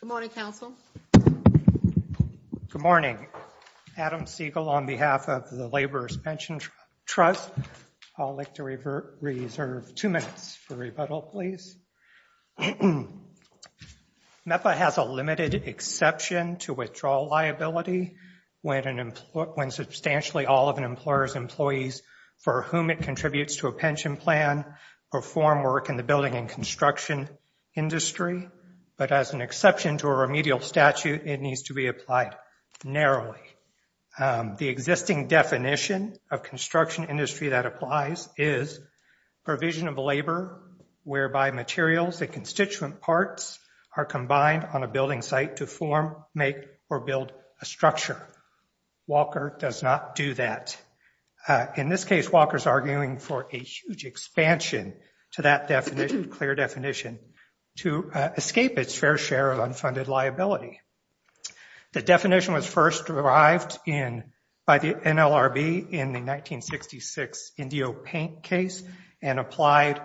Good morning, Council. Good morning. Adam Siegel on behalf of the Laborers' Pension Trust. I'd like to reserve two minutes for rebuttal, please. MEPA has a limited exception to withdrawal liability when substantially all of an employer's employees for whom it contributes to a pension plan perform work in the building and construction industry, but as an exception to a remedial statute, it needs to be applied narrowly. The existing definition of construction industry that applies is provision of labor whereby materials and constituent parts are combined on a building site to form, make, or build a structure. Walker does not do that. In this case, Walker's arguing for a huge expansion to that definition, clear definition, to escape its fair share of unfunded liability. The definition was first derived by the NLRB in the 1966 Indio Paint case and applied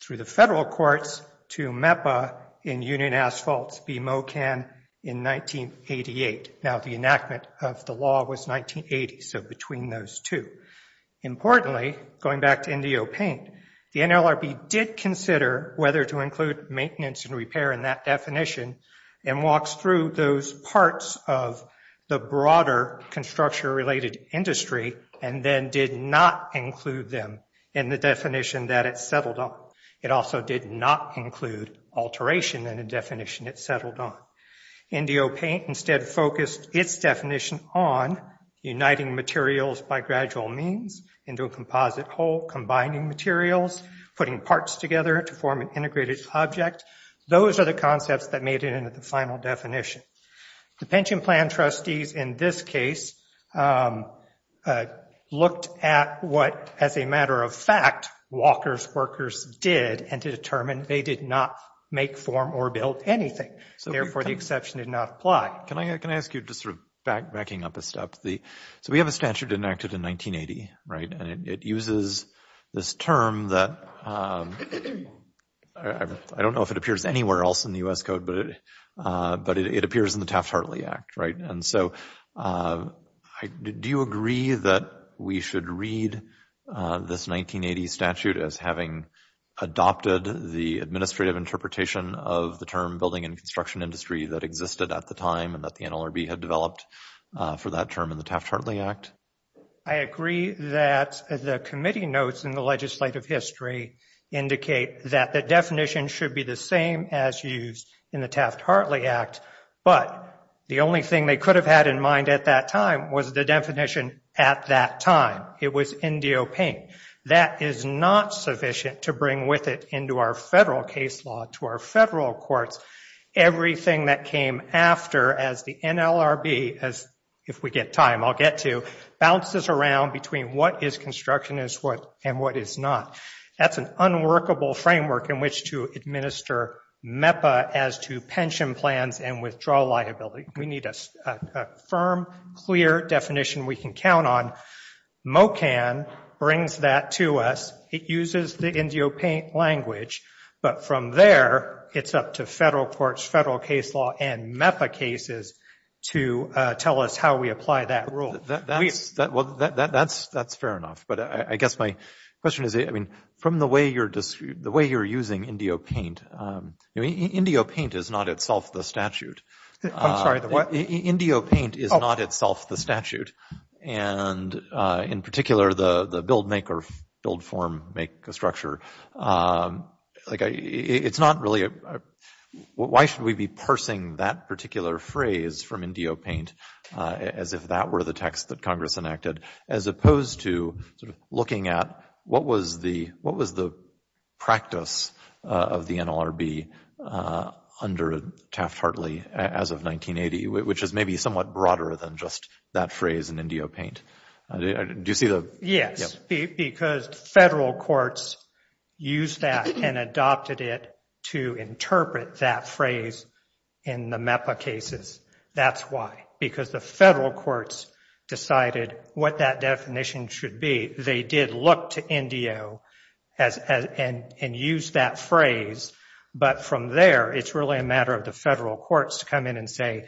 through the federal courts to MEPA in Union Asphalts v. Mocan in 1988. Now, the enactment of the law was 1980, so between those two. Importantly, going back to Indio Paint, the NLRB did consider whether to include maintenance and repair in that definition and walks through those parts of the broader construction-related industry and then did not include them in the definition that it settled on. It also did not include alteration in the definition it settled on. Indio Paint instead focused its definition on uniting materials by gradual means into a composite whole, combining materials, putting parts together to form an integrated object. Those are the concepts that made it into the final definition. The pension plan trustees in this case looked at what, as a matter of fact, Walker's workers did and to determine they did not make, form, or build anything. Therefore, the exception did not apply. Can I ask you, just sort of backing up a step, so we have a statute enacted in 1980, right? And it uses this term that, I don't know if it appears anywhere else in the U.S. Code, but it appears in the Taft-Hartley Act, right? And so, do you agree that we should read this 1980 statute as having adopted the administrative interpretation of the term building and construction industry that existed at the time and that the NLRB had developed for that term in the Taft-Hartley Act? I agree that the committee notes in the legislative history indicate that the definition should be the same as used in the Taft-Hartley Act, but the only thing they could have had in mind at that time was the definition at that time. It was in DOP. That is not sufficient to bring with it into our federal case law to our federal courts. Everything that came after as the NLRB, as if we get time, I'll get to, bounces around between what is construction and what is not. That's an unworkable framework in which to administer MEPA as to pension plans and withdrawal liability. We need a firm, clear definition we can count on. MoCAN brings that to us. It uses the IndioPaint language, but from there, it's up to federal courts, federal case law, and MEPA cases to tell us how we apply that rule. That's fair enough, but I guess my question is, I mean, from the way you're using IndioPaint, IndioPaint is not itself the statute. I'm sorry, what? IndioPaint is not itself the statute, and in particular, the build, make, or build, form, make, structure. It's not really, why should we be parsing that particular phrase from IndioPaint as if that were the text that Congress enacted, as opposed to looking at what was the practice of the NLRB under Taft-Hartley as of 1980, which is maybe somewhat broader than just that phrase in IndioPaint. Do you see the? Yes, because federal courts used that and adopted it to interpret that phrase in the MEPA cases. That's why, because the federal courts decided what that definition should be. They did look to Indio and use that phrase, but from there, it's really a matter of the federal courts to come in and say,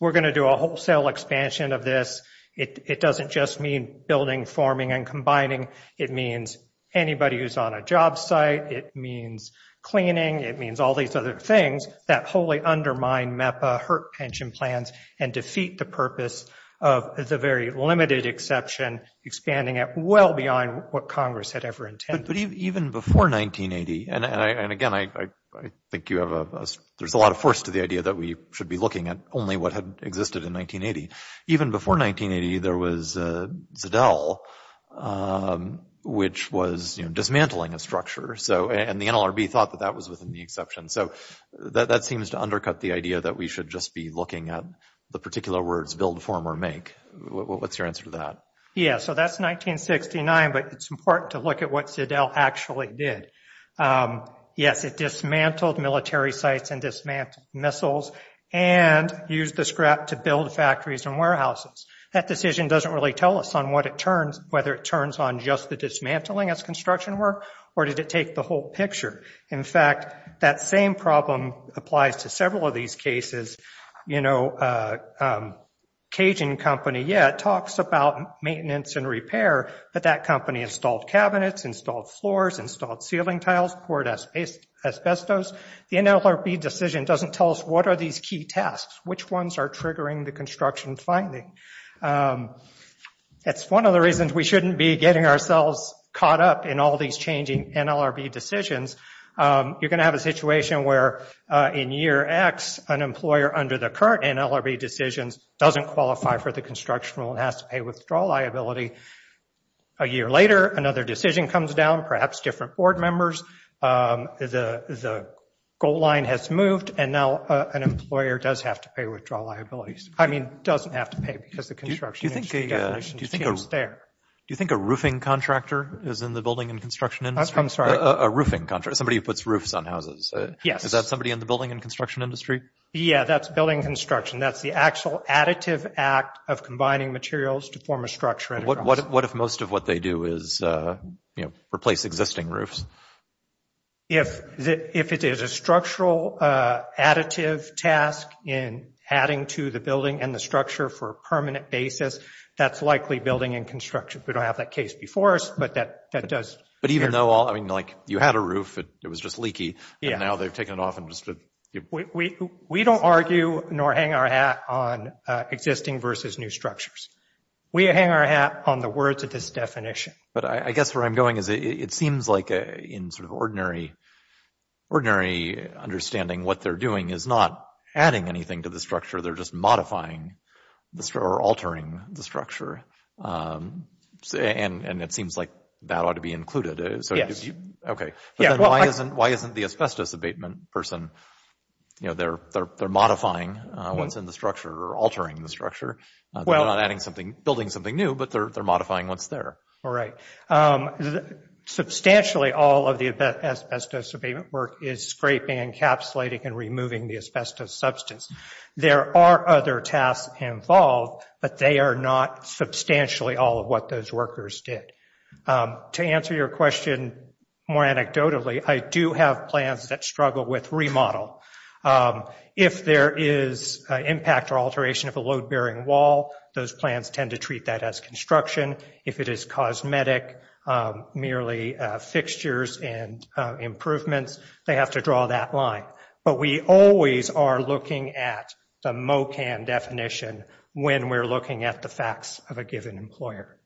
we're going to do a wholesale expansion of this. It doesn't just mean building, forming, and combining. It means anybody who's on a job site. It means cleaning. It means all these other things that wholly undermine MEPA, hurt pension plans, and defeat the purpose of the very limited exception, expanding it well beyond what Congress had ever intended. But even before 1980, and again, I think you have a, there's a lot of force to the idea that we should be looking at only what had existed in 1980. Even before 1980, there was Zedell, which was dismantling a structure, so, and the NLRB thought that that was within the exception. So, that seems to undercut the idea that we should just be looking at the particular words build, form, or make. What's your answer to that? Yeah, so that's 1969, but it's important to look at what Zedell actually did. Yes, it dismantled military sites and dismantled missiles and used the scrap to build factories and warehouses. That decision doesn't really tell us on what it turns, whether it turns on just the applies to several of these cases. You know, a Cajun company, yeah, it talks about maintenance and repair, but that company installed cabinets, installed floors, installed ceiling tiles, poured asbestos. The NLRB decision doesn't tell us what are these key tasks, which ones are triggering the construction finding. That's one of the reasons we shouldn't be getting ourselves caught up in all these changing NLRB decisions. You're going to have a situation where in year X, an employer under the current NLRB decisions doesn't qualify for the constructional and has to pay withdrawal liability. A year later, another decision comes down, perhaps different board members. The goal line has moved, and now an employer does have to pay withdrawal liabilities. I mean, doesn't have to pay because the construction is there. Do you think a roofing contractor is in the building and construction industry? I'm sorry. A roofing contractor, somebody who puts roofs on houses. Yes. Is that somebody in the building and construction industry? Yeah, that's building construction. That's the actual additive act of combining materials to form a structure. What if most of what they do is, you know, replace existing roofs? If it is a structural additive task in adding to the building and the structure for a permanent basis, that's likely building and construction. We don't have that case before us, but that does... But even though, I mean, like you had a roof, it was just leaky. Yeah. Now they've taken it off and just... We don't argue nor hang our hat on existing versus new structures. We hang our hat on the words of this definition. But I guess where I'm going is it seems like in sort of ordinary understanding what they're doing is not adding anything to the structure, they're just modifying or altering the structure. And it seems like that ought to be included. So... Okay. But then why isn't the asbestos abatement person, you know, they're modifying what's in the structure or altering the structure? They're not adding something, building something new, but they're modifying what's there. All right. Substantially, all of the asbestos abatement work is scraping, encapsulating, and removing the asbestos substance. There are other tasks involved, but they are not substantially all of what those workers did. To answer your question more anecdotally, I do have plans that struggle with remodel. If there is an impact or alteration of a load-bearing wall, those plans tend to treat that as construction. If it is cosmetic, merely fixtures and improvements, they have to draw that line. But we always are looking at the MOCAN definition when we're looking at the facts of a given employer.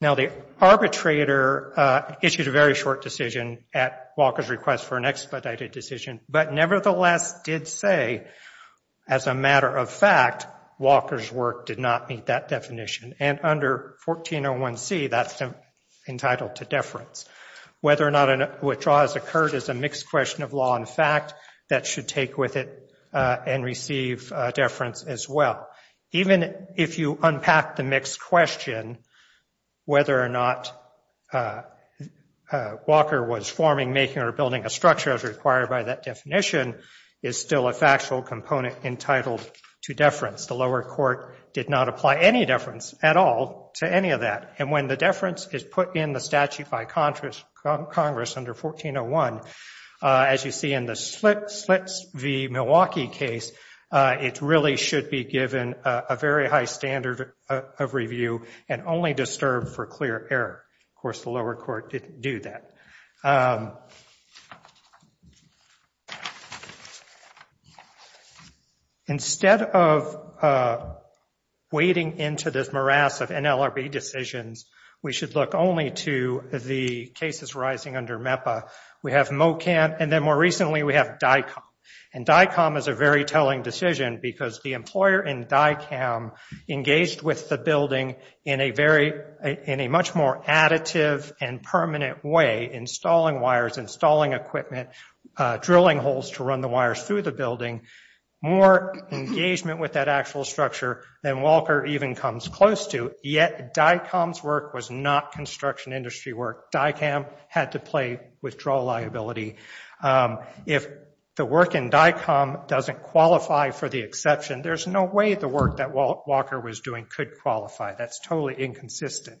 Now, the arbitrator issued a very short decision at Walker's request for an expedited decision, but nevertheless did say, as a matter of fact, Walker's work did not meet that definition. And under 1401C, that's entitled to deference. Whether or not a withdrawal has occurred is a mixed question of law and fact that should take with it and receive deference as well. Even if you unpack the mixed question, whether or not Walker was forming, making, or building a structure as required by that definition is still a factual component entitled to deference. The lower court did not apply any deference at all to any of that. And when the deference is put in the statute by Congress under 1401, as you see in the Slits v. Milwaukee case, it really should be given a very high standard of review and only disturbed for clear error. Of course, the lower court didn't do that. Instead of wading into this morass of NLRB decisions, we should look only to the cases rising under MEPA. We have Mocant, and then more recently, we have DICOM. And DICOM is a very telling decision because the employer in DICOM engaged with the building in a much more additive and permanent way, installing wires, installing equipment, drilling holes to run the wires through the building. More engagement with that actual structure than Walker even comes close to, yet DICOM's work was not construction industry work. DICOM had to play withdrawal liability. If the work in DICOM doesn't qualify for the exception, there's no way the work that Walker was doing could qualify. That's totally inconsistent.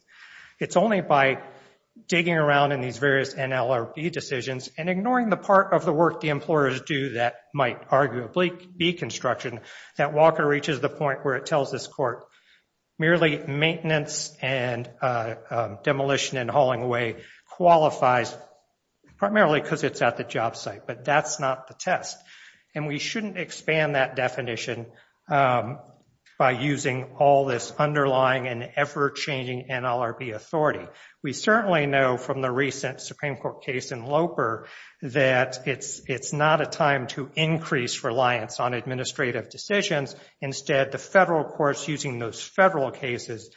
It's only by digging around in these various NLRB decisions and ignoring the part of the work the employers do that might arguably be construction that Walker reaches the point where it tells this court, merely maintenance and demolition and hauling away qualifies, primarily because it's at the job site. But that's not the test. And we shouldn't expand that definition by using all this underlying and ever-changing NLRB authority. We certainly know from the recent Supreme Court case in Loper that it's not a time to increase reliance on administrative decisions. Instead, the federal courts using those federal cases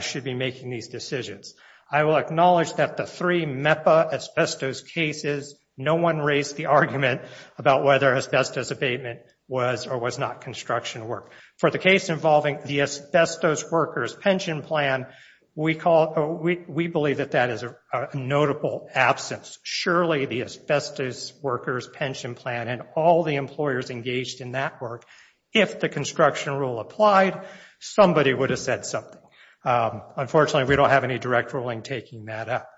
should be making these decisions. I will acknowledge that the three MEPA asbestos cases, no one raised the argument about whether asbestos abatement was or was not construction work. For the case involving the asbestos workers pension plan, we believe that that is a notable absence. Surely the asbestos workers pension plan and all the employers engaged in that work, if the construction rule applied, somebody would have said something. Unfortunately, we don't have any direct ruling taking that up.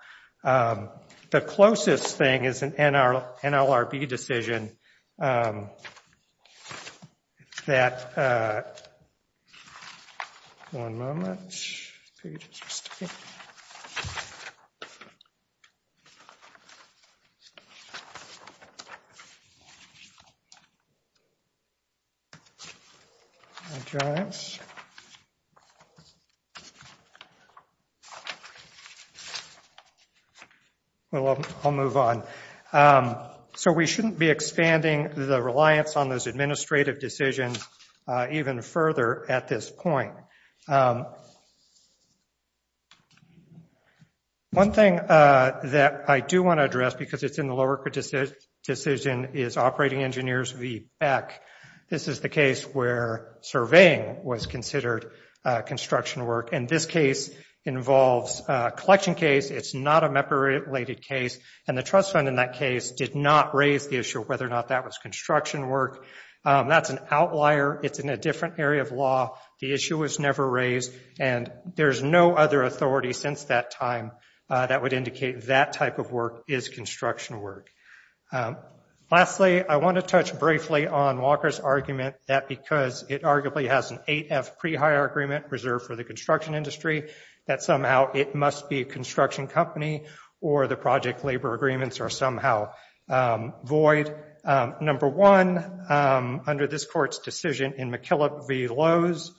Um, the closest thing is an NLRB decision, um, that, uh... One moment... Well, I'll move on. So we shouldn't be expanding the reliance on those administrative decisions even further at this point. One thing that I do want to address because it's in the lower decision is Operating Engineers v. Beck. This is the case where surveying was considered construction work. And this case involves a collection case. It's not a MEPA-related case. And the trust fund in that case did not raise the issue of whether or not that was construction work. That's an outlier. It's in a different area of law. The issue was never raised. And there's no other authority since that time that would indicate that type of work is construction work. Lastly, I want to touch briefly on Walker's argument that because it arguably has an 8F pre-hire agreement reserved for the construction industry, that somehow it must be a construction company or the project labor agreements are somehow void. Number one, under this court's decision in McKillop v. Lowes,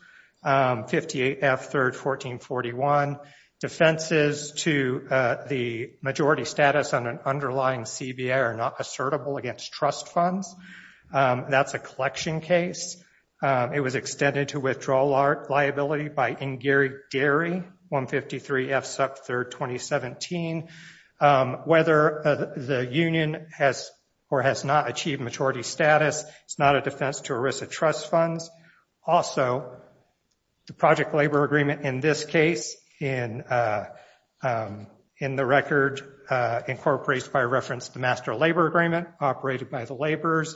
58F, 3rd, 1441, defenses to the majority status on an underlying CBA are not assertable against trust funds. That's a collection case. It was extended to withdrawal liability by N. Gary, 153 F, 3rd, 2017. Whether the union has or has not achieved majority status, it's not a defense to a risk of trust funds. Also, the project labor agreement in this case in the record incorporates by reference the master labor agreement operated by the laborers.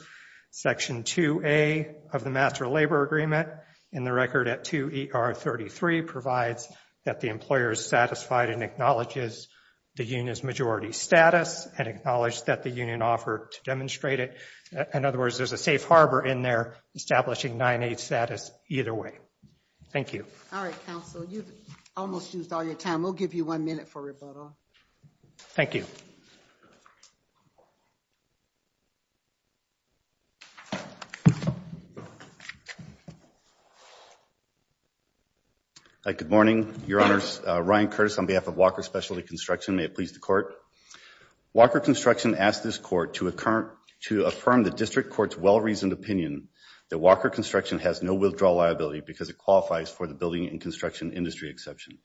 Section 2A of the master labor agreement in the record at 2ER33 provides that the employer is satisfied and acknowledges the union's majority status and acknowledge that the union offered to demonstrate it. In other words, there's a safe harbor in there establishing 9A status either way. Thank you. All right, counsel. You've almost used all your time. We'll give you one minute for rebuttal. Thank you. All right, good morning, your honors. Ryan Curtis on behalf of Walker Specialty Construction. May it please the court. Walker Construction asked this court to affirm the district court's well-reasoned opinion that Walker Construction has no withdrawal liability because it qualifies for the building and construction industry exception.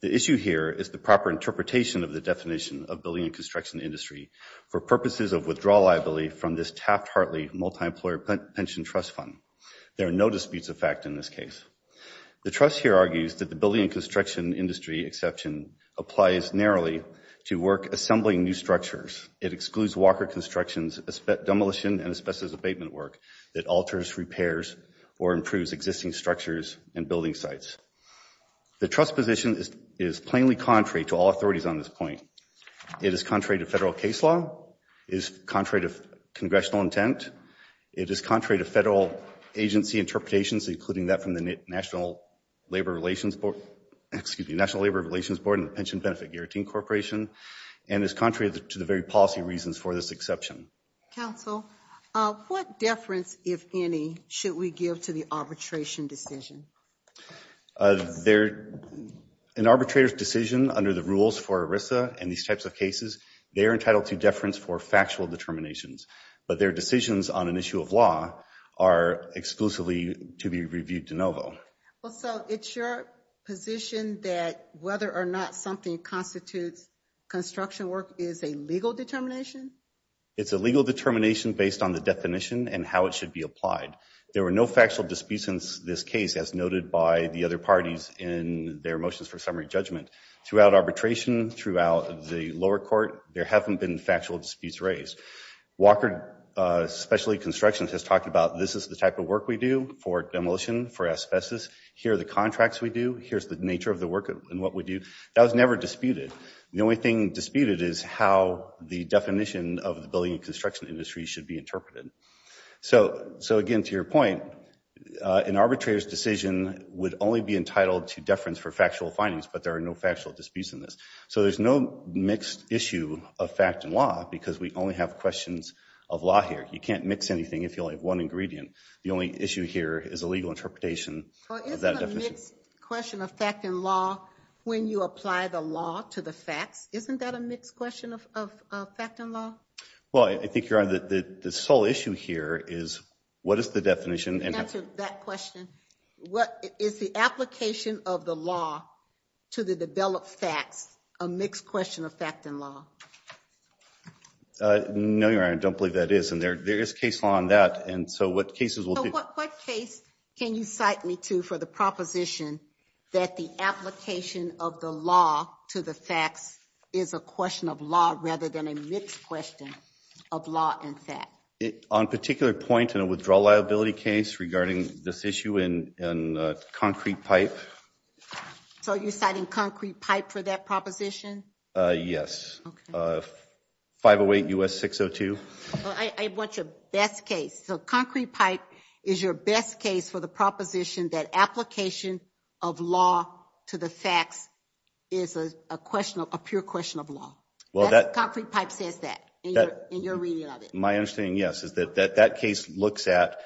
The issue here is the proper interpretation of the definition of building and construction industry for purposes of withdrawal liability from this Taft-Hartley multi-employer pension trust fund. There are no disputes of fact in this case. The trust here argues that the building and construction industry exception applies narrowly to work assembling new structures. It excludes Walker Construction's demolition and asbestos abatement work that alters, repairs, or improves existing structures and building sites. The trust position is plainly contrary to all authorities on this point. It is contrary to federal case law, is contrary to congressional intent, it is contrary to federal agency interpretations, including that from the National Labor Relations Board, excuse me, National Labor Relations Board and the Pension Benefit Guarantee Corporation, and is contrary to the very policy reasons for this exception. Counsel, what deference, if any, should we give to the arbitration decision? An arbitrator's decision under the rules for ERISA and these types of cases, they're entitled to deference for factual determinations, but their decisions on an issue of law are exclusively to be reviewed de novo. Well, so it's your position that whether or not something constitutes construction work is a legal determination? It's a legal determination based on the definition and how it should be applied. There were no factual disputes in this case as noted by the other parties in their motions for summary judgment. Throughout arbitration, throughout the lower court, there haven't been factual disputes raised. Walker Specialty Construction has talked about this is the type of work we do for demolition, for asbestos. Here are the contracts we do. Here's the nature of the work and what we do. That was never disputed. The only thing disputed is how the definition of the building and construction industry should be interpreted. So again, to your point, an arbitrator's decision would only be entitled to deference for factual findings, but there are no factual disputes in this. So there's no mixed issue of fact and law because we only have questions of law here. You can't mix anything if you only have one ingredient. The only issue here is a legal interpretation. Well, isn't a mixed question of fact and law when you apply the law to the facts? Isn't that a mixed question of fact and law? Well, I think, Your Honor, the sole issue here is what is the definition? To answer that question, what is the application of the law to the developed facts, a mixed question of fact and law? No, Your Honor, I don't believe that is. And there is case law on that. And so what cases will be- So what case can you cite me to for the proposition that the application of the law to the facts is a question of law rather than a mixed question of law and fact? On particular point in a withdrawal liability case regarding this issue in Concrete Pipe. So you're citing Concrete Pipe for that proposition? Yes. 508 U.S. 602. Well, I want your best case. So Concrete Pipe is your best case for the proposition that application of law to the facts is a pure question of law. Concrete Pipe says that in your reading of it. My understanding, yes, is that that case looks at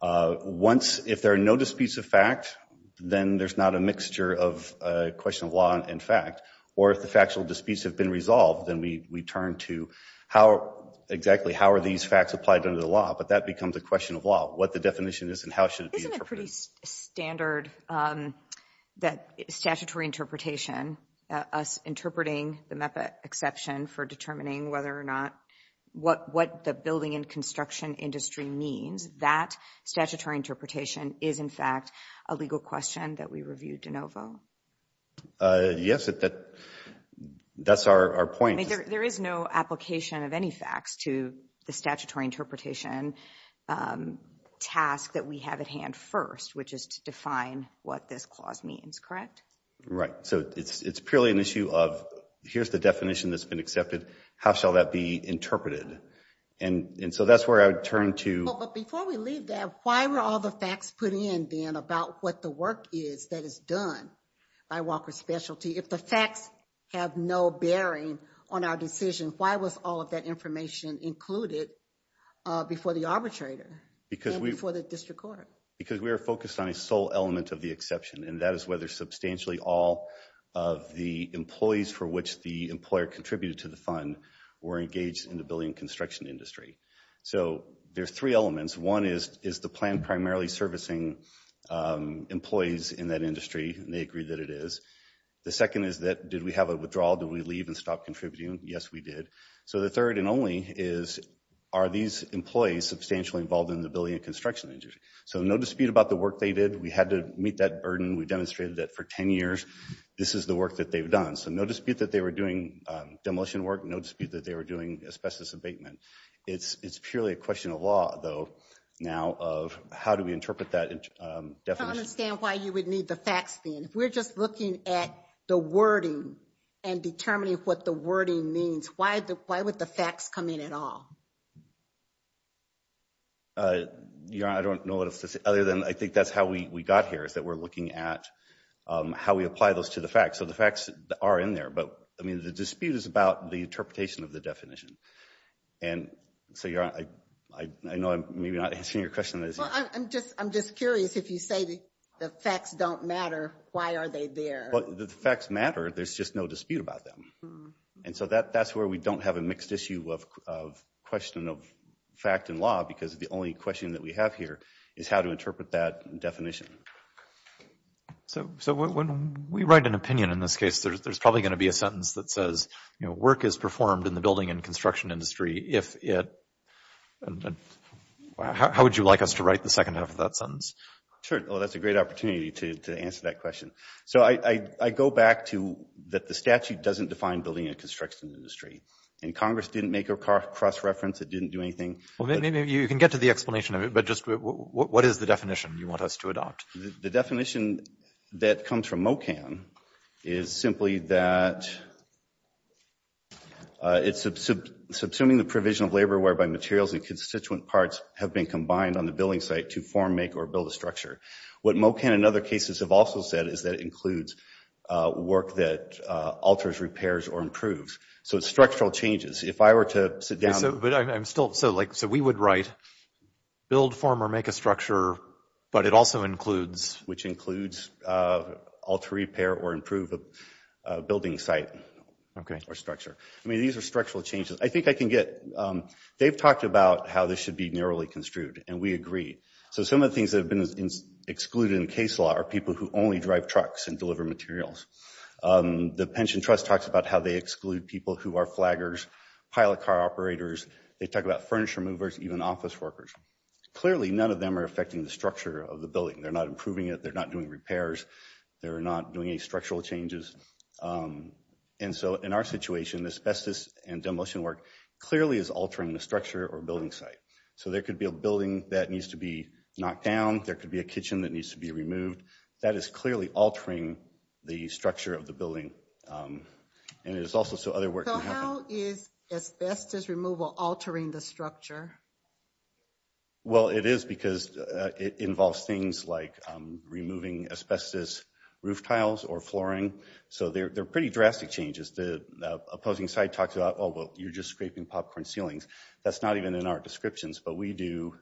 once if there are no disputes of fact, then there's not a mixture of a question of law and fact. Or if the factual disputes have been resolved, then we turn to how exactly, how are these facts applied under the law? But that becomes a question of law, what the definition is and how should it be interpreted. Isn't it pretty standard that statutory interpretation, us interpreting the MEPA exception for determining whether or not, what the building and construction industry means, that statutory interpretation is, in fact, a legal question that we reviewed de novo? Yes, that's our point. There is no application of any facts to the statutory interpretation task that we have at hand first, which is to define what this clause means, correct? Right. So it's purely an issue of, here's the definition that's been accepted. How shall that be interpreted? And so that's where I would turn to. But before we leave that, why were all the facts put in then about what the work is that is done by Walker Specialty? If the facts have no bearing on our decision, why was all of that information included before the arbitrator and before the district court? Because we are focused on a sole element of the exception. And that is whether substantially all of the employees for which the employer contributed to the fund were engaged in the building and construction industry. So there's three elements. One is, is the plan primarily servicing employees in that industry? And they agree that it is. The second is that, did we have a withdrawal? Did we leave and stop contributing? Yes, we did. So the third and only is, are these employees substantially involved in the building and construction industry? So no dispute about the work they did. We had to meet that burden. We demonstrated that for 10 years, this is the work that they've done. So no dispute that they were doing demolition work. No dispute that they were doing asbestos abatement. It's purely a question of law though, now of how do we interpret that definition? I don't understand why you would need the facts then. If we're just looking at the wording and determining what the wording means, why would the facts come in at all? I don't know what else to say. Other than I think that's how we got here is that we're looking at how we apply those to the facts. So the facts are in there, but I mean the dispute is about the interpretation of the definition. And so I know I'm maybe not answering your question. Well, I'm just curious if you say the facts don't matter, why are they there? Well, the facts matter, there's just no dispute about them. And so that's where we don't have a mixed issue of question of fact and law because the only question that we have here is how to interpret that definition. So when we write an opinion in this case, there's probably going to be a sentence that says, you know, work is performed in the building and construction industry if it... How would you like us to write the second half of that sentence? Sure, well, that's a great opportunity to answer that question. So I go back to that the statute doesn't define building and construction industry. And Congress didn't make a cross-reference, it didn't do anything. Well, maybe you can get to the explanation of it, but just what is the definition you want us to adopt? The definition that comes from MOCAN is simply that it's subsuming the provision of labor whereby materials and constituent parts have been combined on the building site to form, make, or build a structure. What MOCAN and other cases have also said is that it includes work that alters, repairs, or improves. So it's structural changes. If I were to sit down... But I'm still... So like, so we would write build, form, or make a structure, but it also includes... Which includes alter, repair, or improve a building site. Okay. Or structure. I mean, these are structural changes. I think I can get... They've talked about how this should be narrowly construed, and we agree. So some of the things that have been excluded in case law are people who only drive trucks and deliver materials. The Pension Trust talks about how they exclude people who are flaggers, pilot car operators. They talk about furniture movers, even office workers. Clearly, none of them are affecting the structure of the building. They're not improving it. They're not doing repairs. They're not doing any structural changes. And so in our situation, asbestos and demolition work clearly is altering the structure or building site. So there could be a building that needs to be knocked down. There could be a kitchen that needs to be removed. That is clearly altering the structure of the building. And it is also so other work can happen. So how is asbestos removal altering the structure? Well, it is because it involves things like removing asbestos roof tiles or flooring. So they're pretty drastic changes. The opposing side talks about, oh, well, you're just scraping popcorn ceilings. That's not even in our descriptions. But we do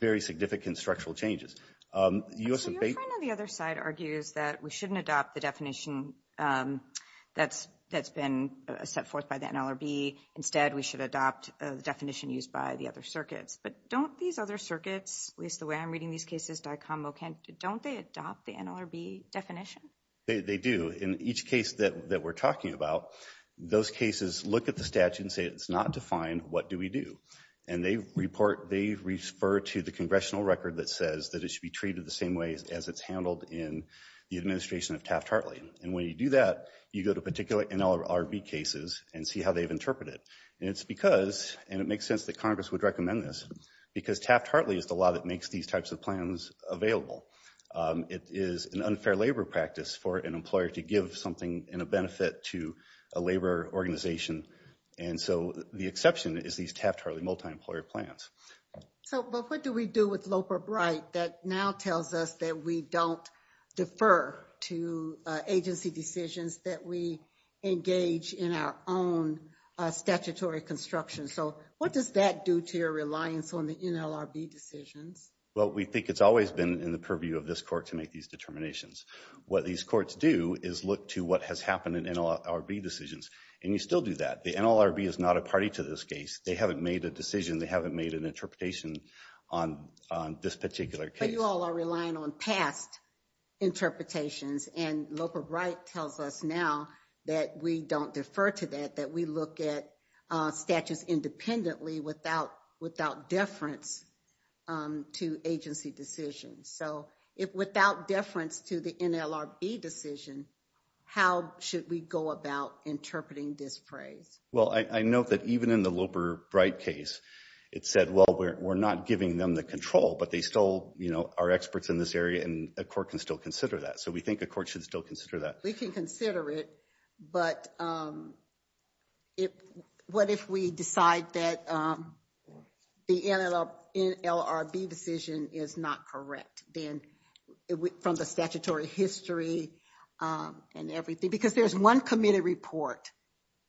very significant structural changes. So your friend on the other side argues that we shouldn't adopt the definition that's been set forth by the NLRB. Instead, we should adopt the definition used by the other circuits. But don't these other circuits, at least the way I'm reading these cases, DICOM, MOCAN, don't they adopt the NLRB definition? They do. In each case that we're talking about, those cases look at the statute and say it's not defined. What do we do? And they refer to the congressional record that says that it should be treated the same way as it's handled in the administration of Taft-Hartley. And when you do that, you go to particular NLRB cases and see how they've interpreted. And it's because, and it makes sense that Congress would recommend this, because Taft-Hartley is the law that makes these types of plans available. It is an unfair labor practice for an employer to give something in a benefit to a labor organization. And so the exception is these Taft-Hartley multi-employer plans. So, but what do we do with Loper-Bright that now tells us that we don't defer to agency decisions that we engage in our own statutory construction? So what does that do to your reliance on the NLRB decisions? Well, we think it's always been in the purview of this court to make these determinations. What these courts do is look to what has happened in NLRB decisions. And you still do that. The NLRB is not a party to this case. They haven't made a decision. They haven't made an interpretation on this particular case. But you all are relying on past interpretations and Loper-Bright tells us now that we don't defer to that, that we look at statutes independently without deference to agency decisions. So if without deference to the NLRB decision, how should we go about interpreting this phrase? Well, I note that even in the Loper-Bright case, it said, well, we're not giving them the control, but they still are experts in this area and a court can still consider that. So we think a court should still consider that. We can consider it, but what if we decide that the NLRB decision is not correct, then from the statutory history and everything, because there's one committee report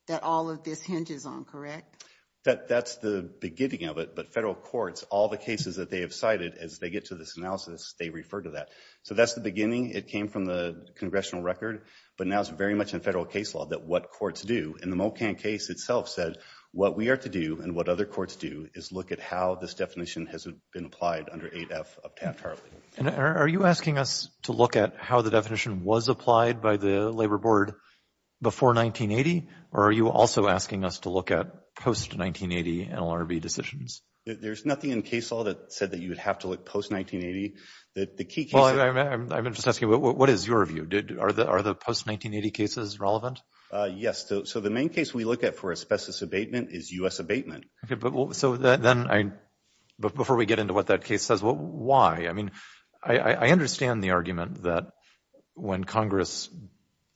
that all of this hinges on, correct? That's the beginning of it, but federal courts, all the cases that they have cited as they get to this analysis, they refer to that. So that's the beginning. It came from the congressional record, but now it's very much in federal case law that what courts do. In the Mocan case itself said, what we are to do and what other courts do is look at how this definition has been applied under 8F of Pat Harley. And are you asking us to look at how the definition was applied by the labor board before 1980? Or are you also asking us to look at post-1980 NLRB decisions? There's nothing in case law that said that you would have to look post-1980. The key case- Well, I'm just asking, what is your view? Are the post-1980 cases relevant? Yes. So the main case we look at for asbestos abatement is U.S. abatement. So then, before we get into what that case says, why? I mean, I understand the argument that when Congress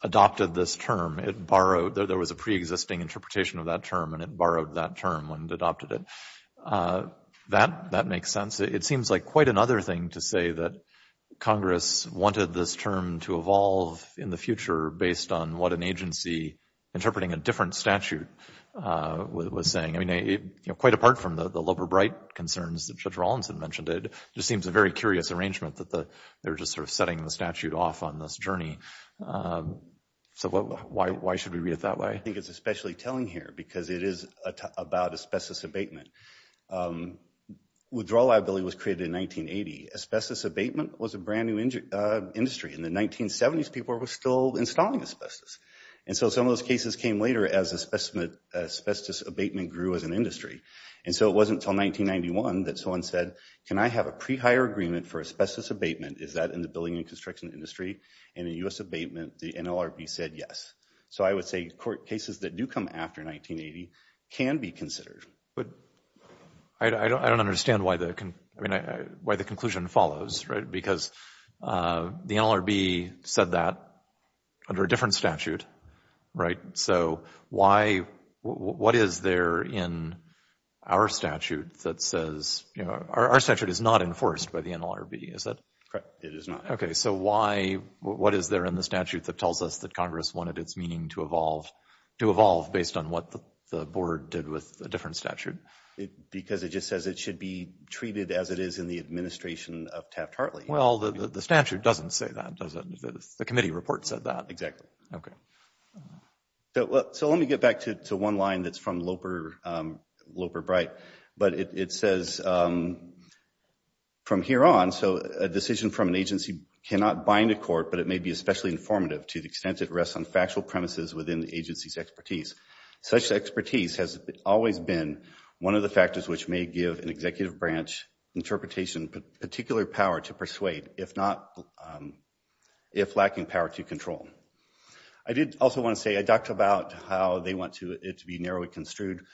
adopted this term, it borrowed, there was a preexisting interpretation of that term and it borrowed that term when it adopted it. That makes sense. It seems like quite another thing to say that Congress wanted this term to evolve in the future based on what an agency interpreting a different statute was saying. I mean, quite apart from the Loeber-Bright concerns that Judge Rawlinson mentioned, it just seems a very curious arrangement that they're just sort of setting the statute off on this journey. So why should we read it that way? I think it's especially telling here because it is about asbestos abatement. Withdrawal liability was created in 1980. Asbestos abatement was a brand new industry. In the 1970s, people were still installing asbestos. And so some of those cases came later as asbestos abatement grew as an industry. And so it wasn't until 1991 that someone said, can I have a pre-hire agreement for asbestos abatement? Is that in the building and construction industry? And in U.S. abatement, the NLRB said yes. So I would say court cases that do come after 1980 can be considered. But I don't understand why the conclusion follows, right? Because the NLRB said that under a different statute, right? So what is there in our statute that says, our statute is not enforced by the NLRB, is it? Correct. It is not. Okay, so what is there in the statute that tells us that Congress wanted its meaning to evolve based on what the board did with a different statute? Because it just says it should be treated as it is in the administration of Taft-Hartley. Well, the statute doesn't say that, does it? The committee report said that. Okay. So let me get back to one line that's from Loper Bright. But it says, from here on, so a decision from an agency cannot bind a court, but it may be especially informative to the extent it rests on factual premises within the agency's expertise. Such expertise has always been one of the factors which may give an executive branch interpretation particular power to persuade, if not, if lacking power to control. I did also want to say, I talked about how they want it to be narrowly construed.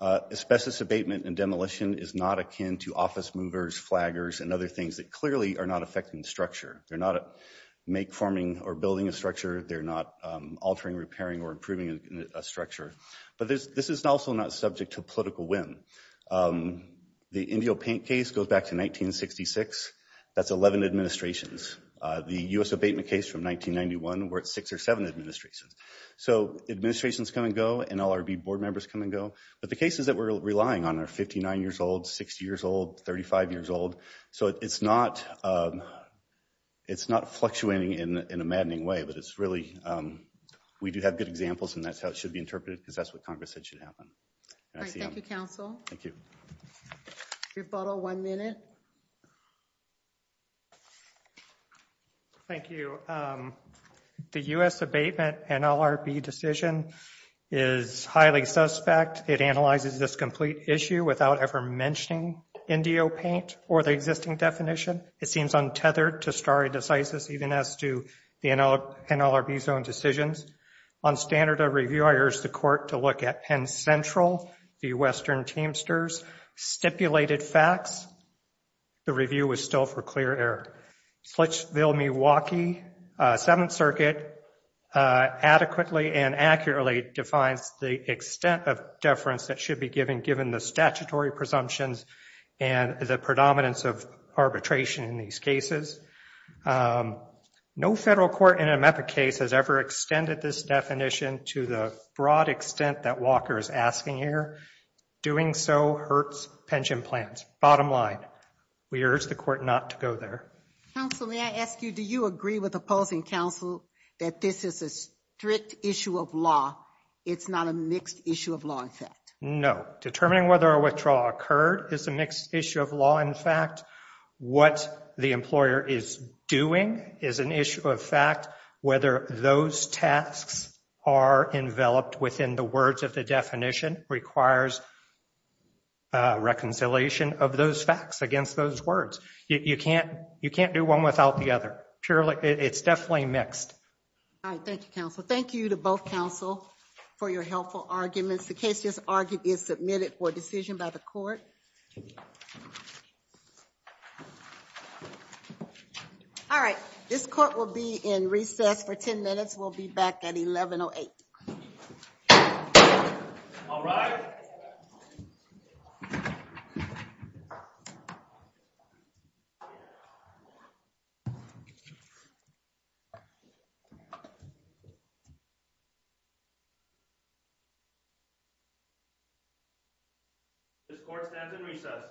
Asbestos abatement and demolition is not akin to office movers, flaggers, and other things that clearly are not affecting the structure. They're not make forming or building a structure. They're not altering, repairing, or improving a structure. But this is also not subject to political whim. The Indio Paint case goes back to 1966. That's 11 administrations. The U.S. abatement case from 1991, we're at six or seven administrations. So administrations come and go, and LRB board members come and go. But the cases that we're relying on are 59 years old, 60 years old, 35 years old. So it's not fluctuating in a maddening way, but it's really, we do have good examples, and that's how it should be interpreted, because that's what Congress said should happen. All right, thank you, counsel. Thank you. Rebuttal, one minute. Thank you. The U.S. abatement and LRB decision is highly suspect. It analyzes this complete issue without ever mentioning Indio Paint or the existing definition. It seems untethered to stare decisis, even as to the NLRB's own decisions. On standard of review, I urge the court to look at Penn Central, the Western Teamsters, stipulated facts. The review was still for clear error. Fletchville, Milwaukee, Seventh Circuit, adequately and accurately defines the extent of deference that should be given, given the statutory presumptions and the predominance of arbitration in these cases. No federal court in an MEPA case has ever extended this definition to the broad extent that Walker is asking here. Doing so hurts pension plans. Bottom line, we urge the court not to go there. Counsel, may I ask you, do you agree with opposing counsel that this is a strict issue of law? It's not a mixed issue of law, in fact? No. Determining whether a withdrawal occurred is a mixed issue of law. In fact, what the employer is doing is an issue of fact. Whether those tasks are enveloped within the words of the definition requires reconciliation of those facts against those words. You can't do one without the other. It's definitely mixed. All right. Thank you, counsel. Thank you to both counsel for your helpful arguments. The case just argued is submitted for decision by the court. Thank you. All right. This court will be in recess for 10 minutes. We'll be back at 11.08. All right. This court stands in recess.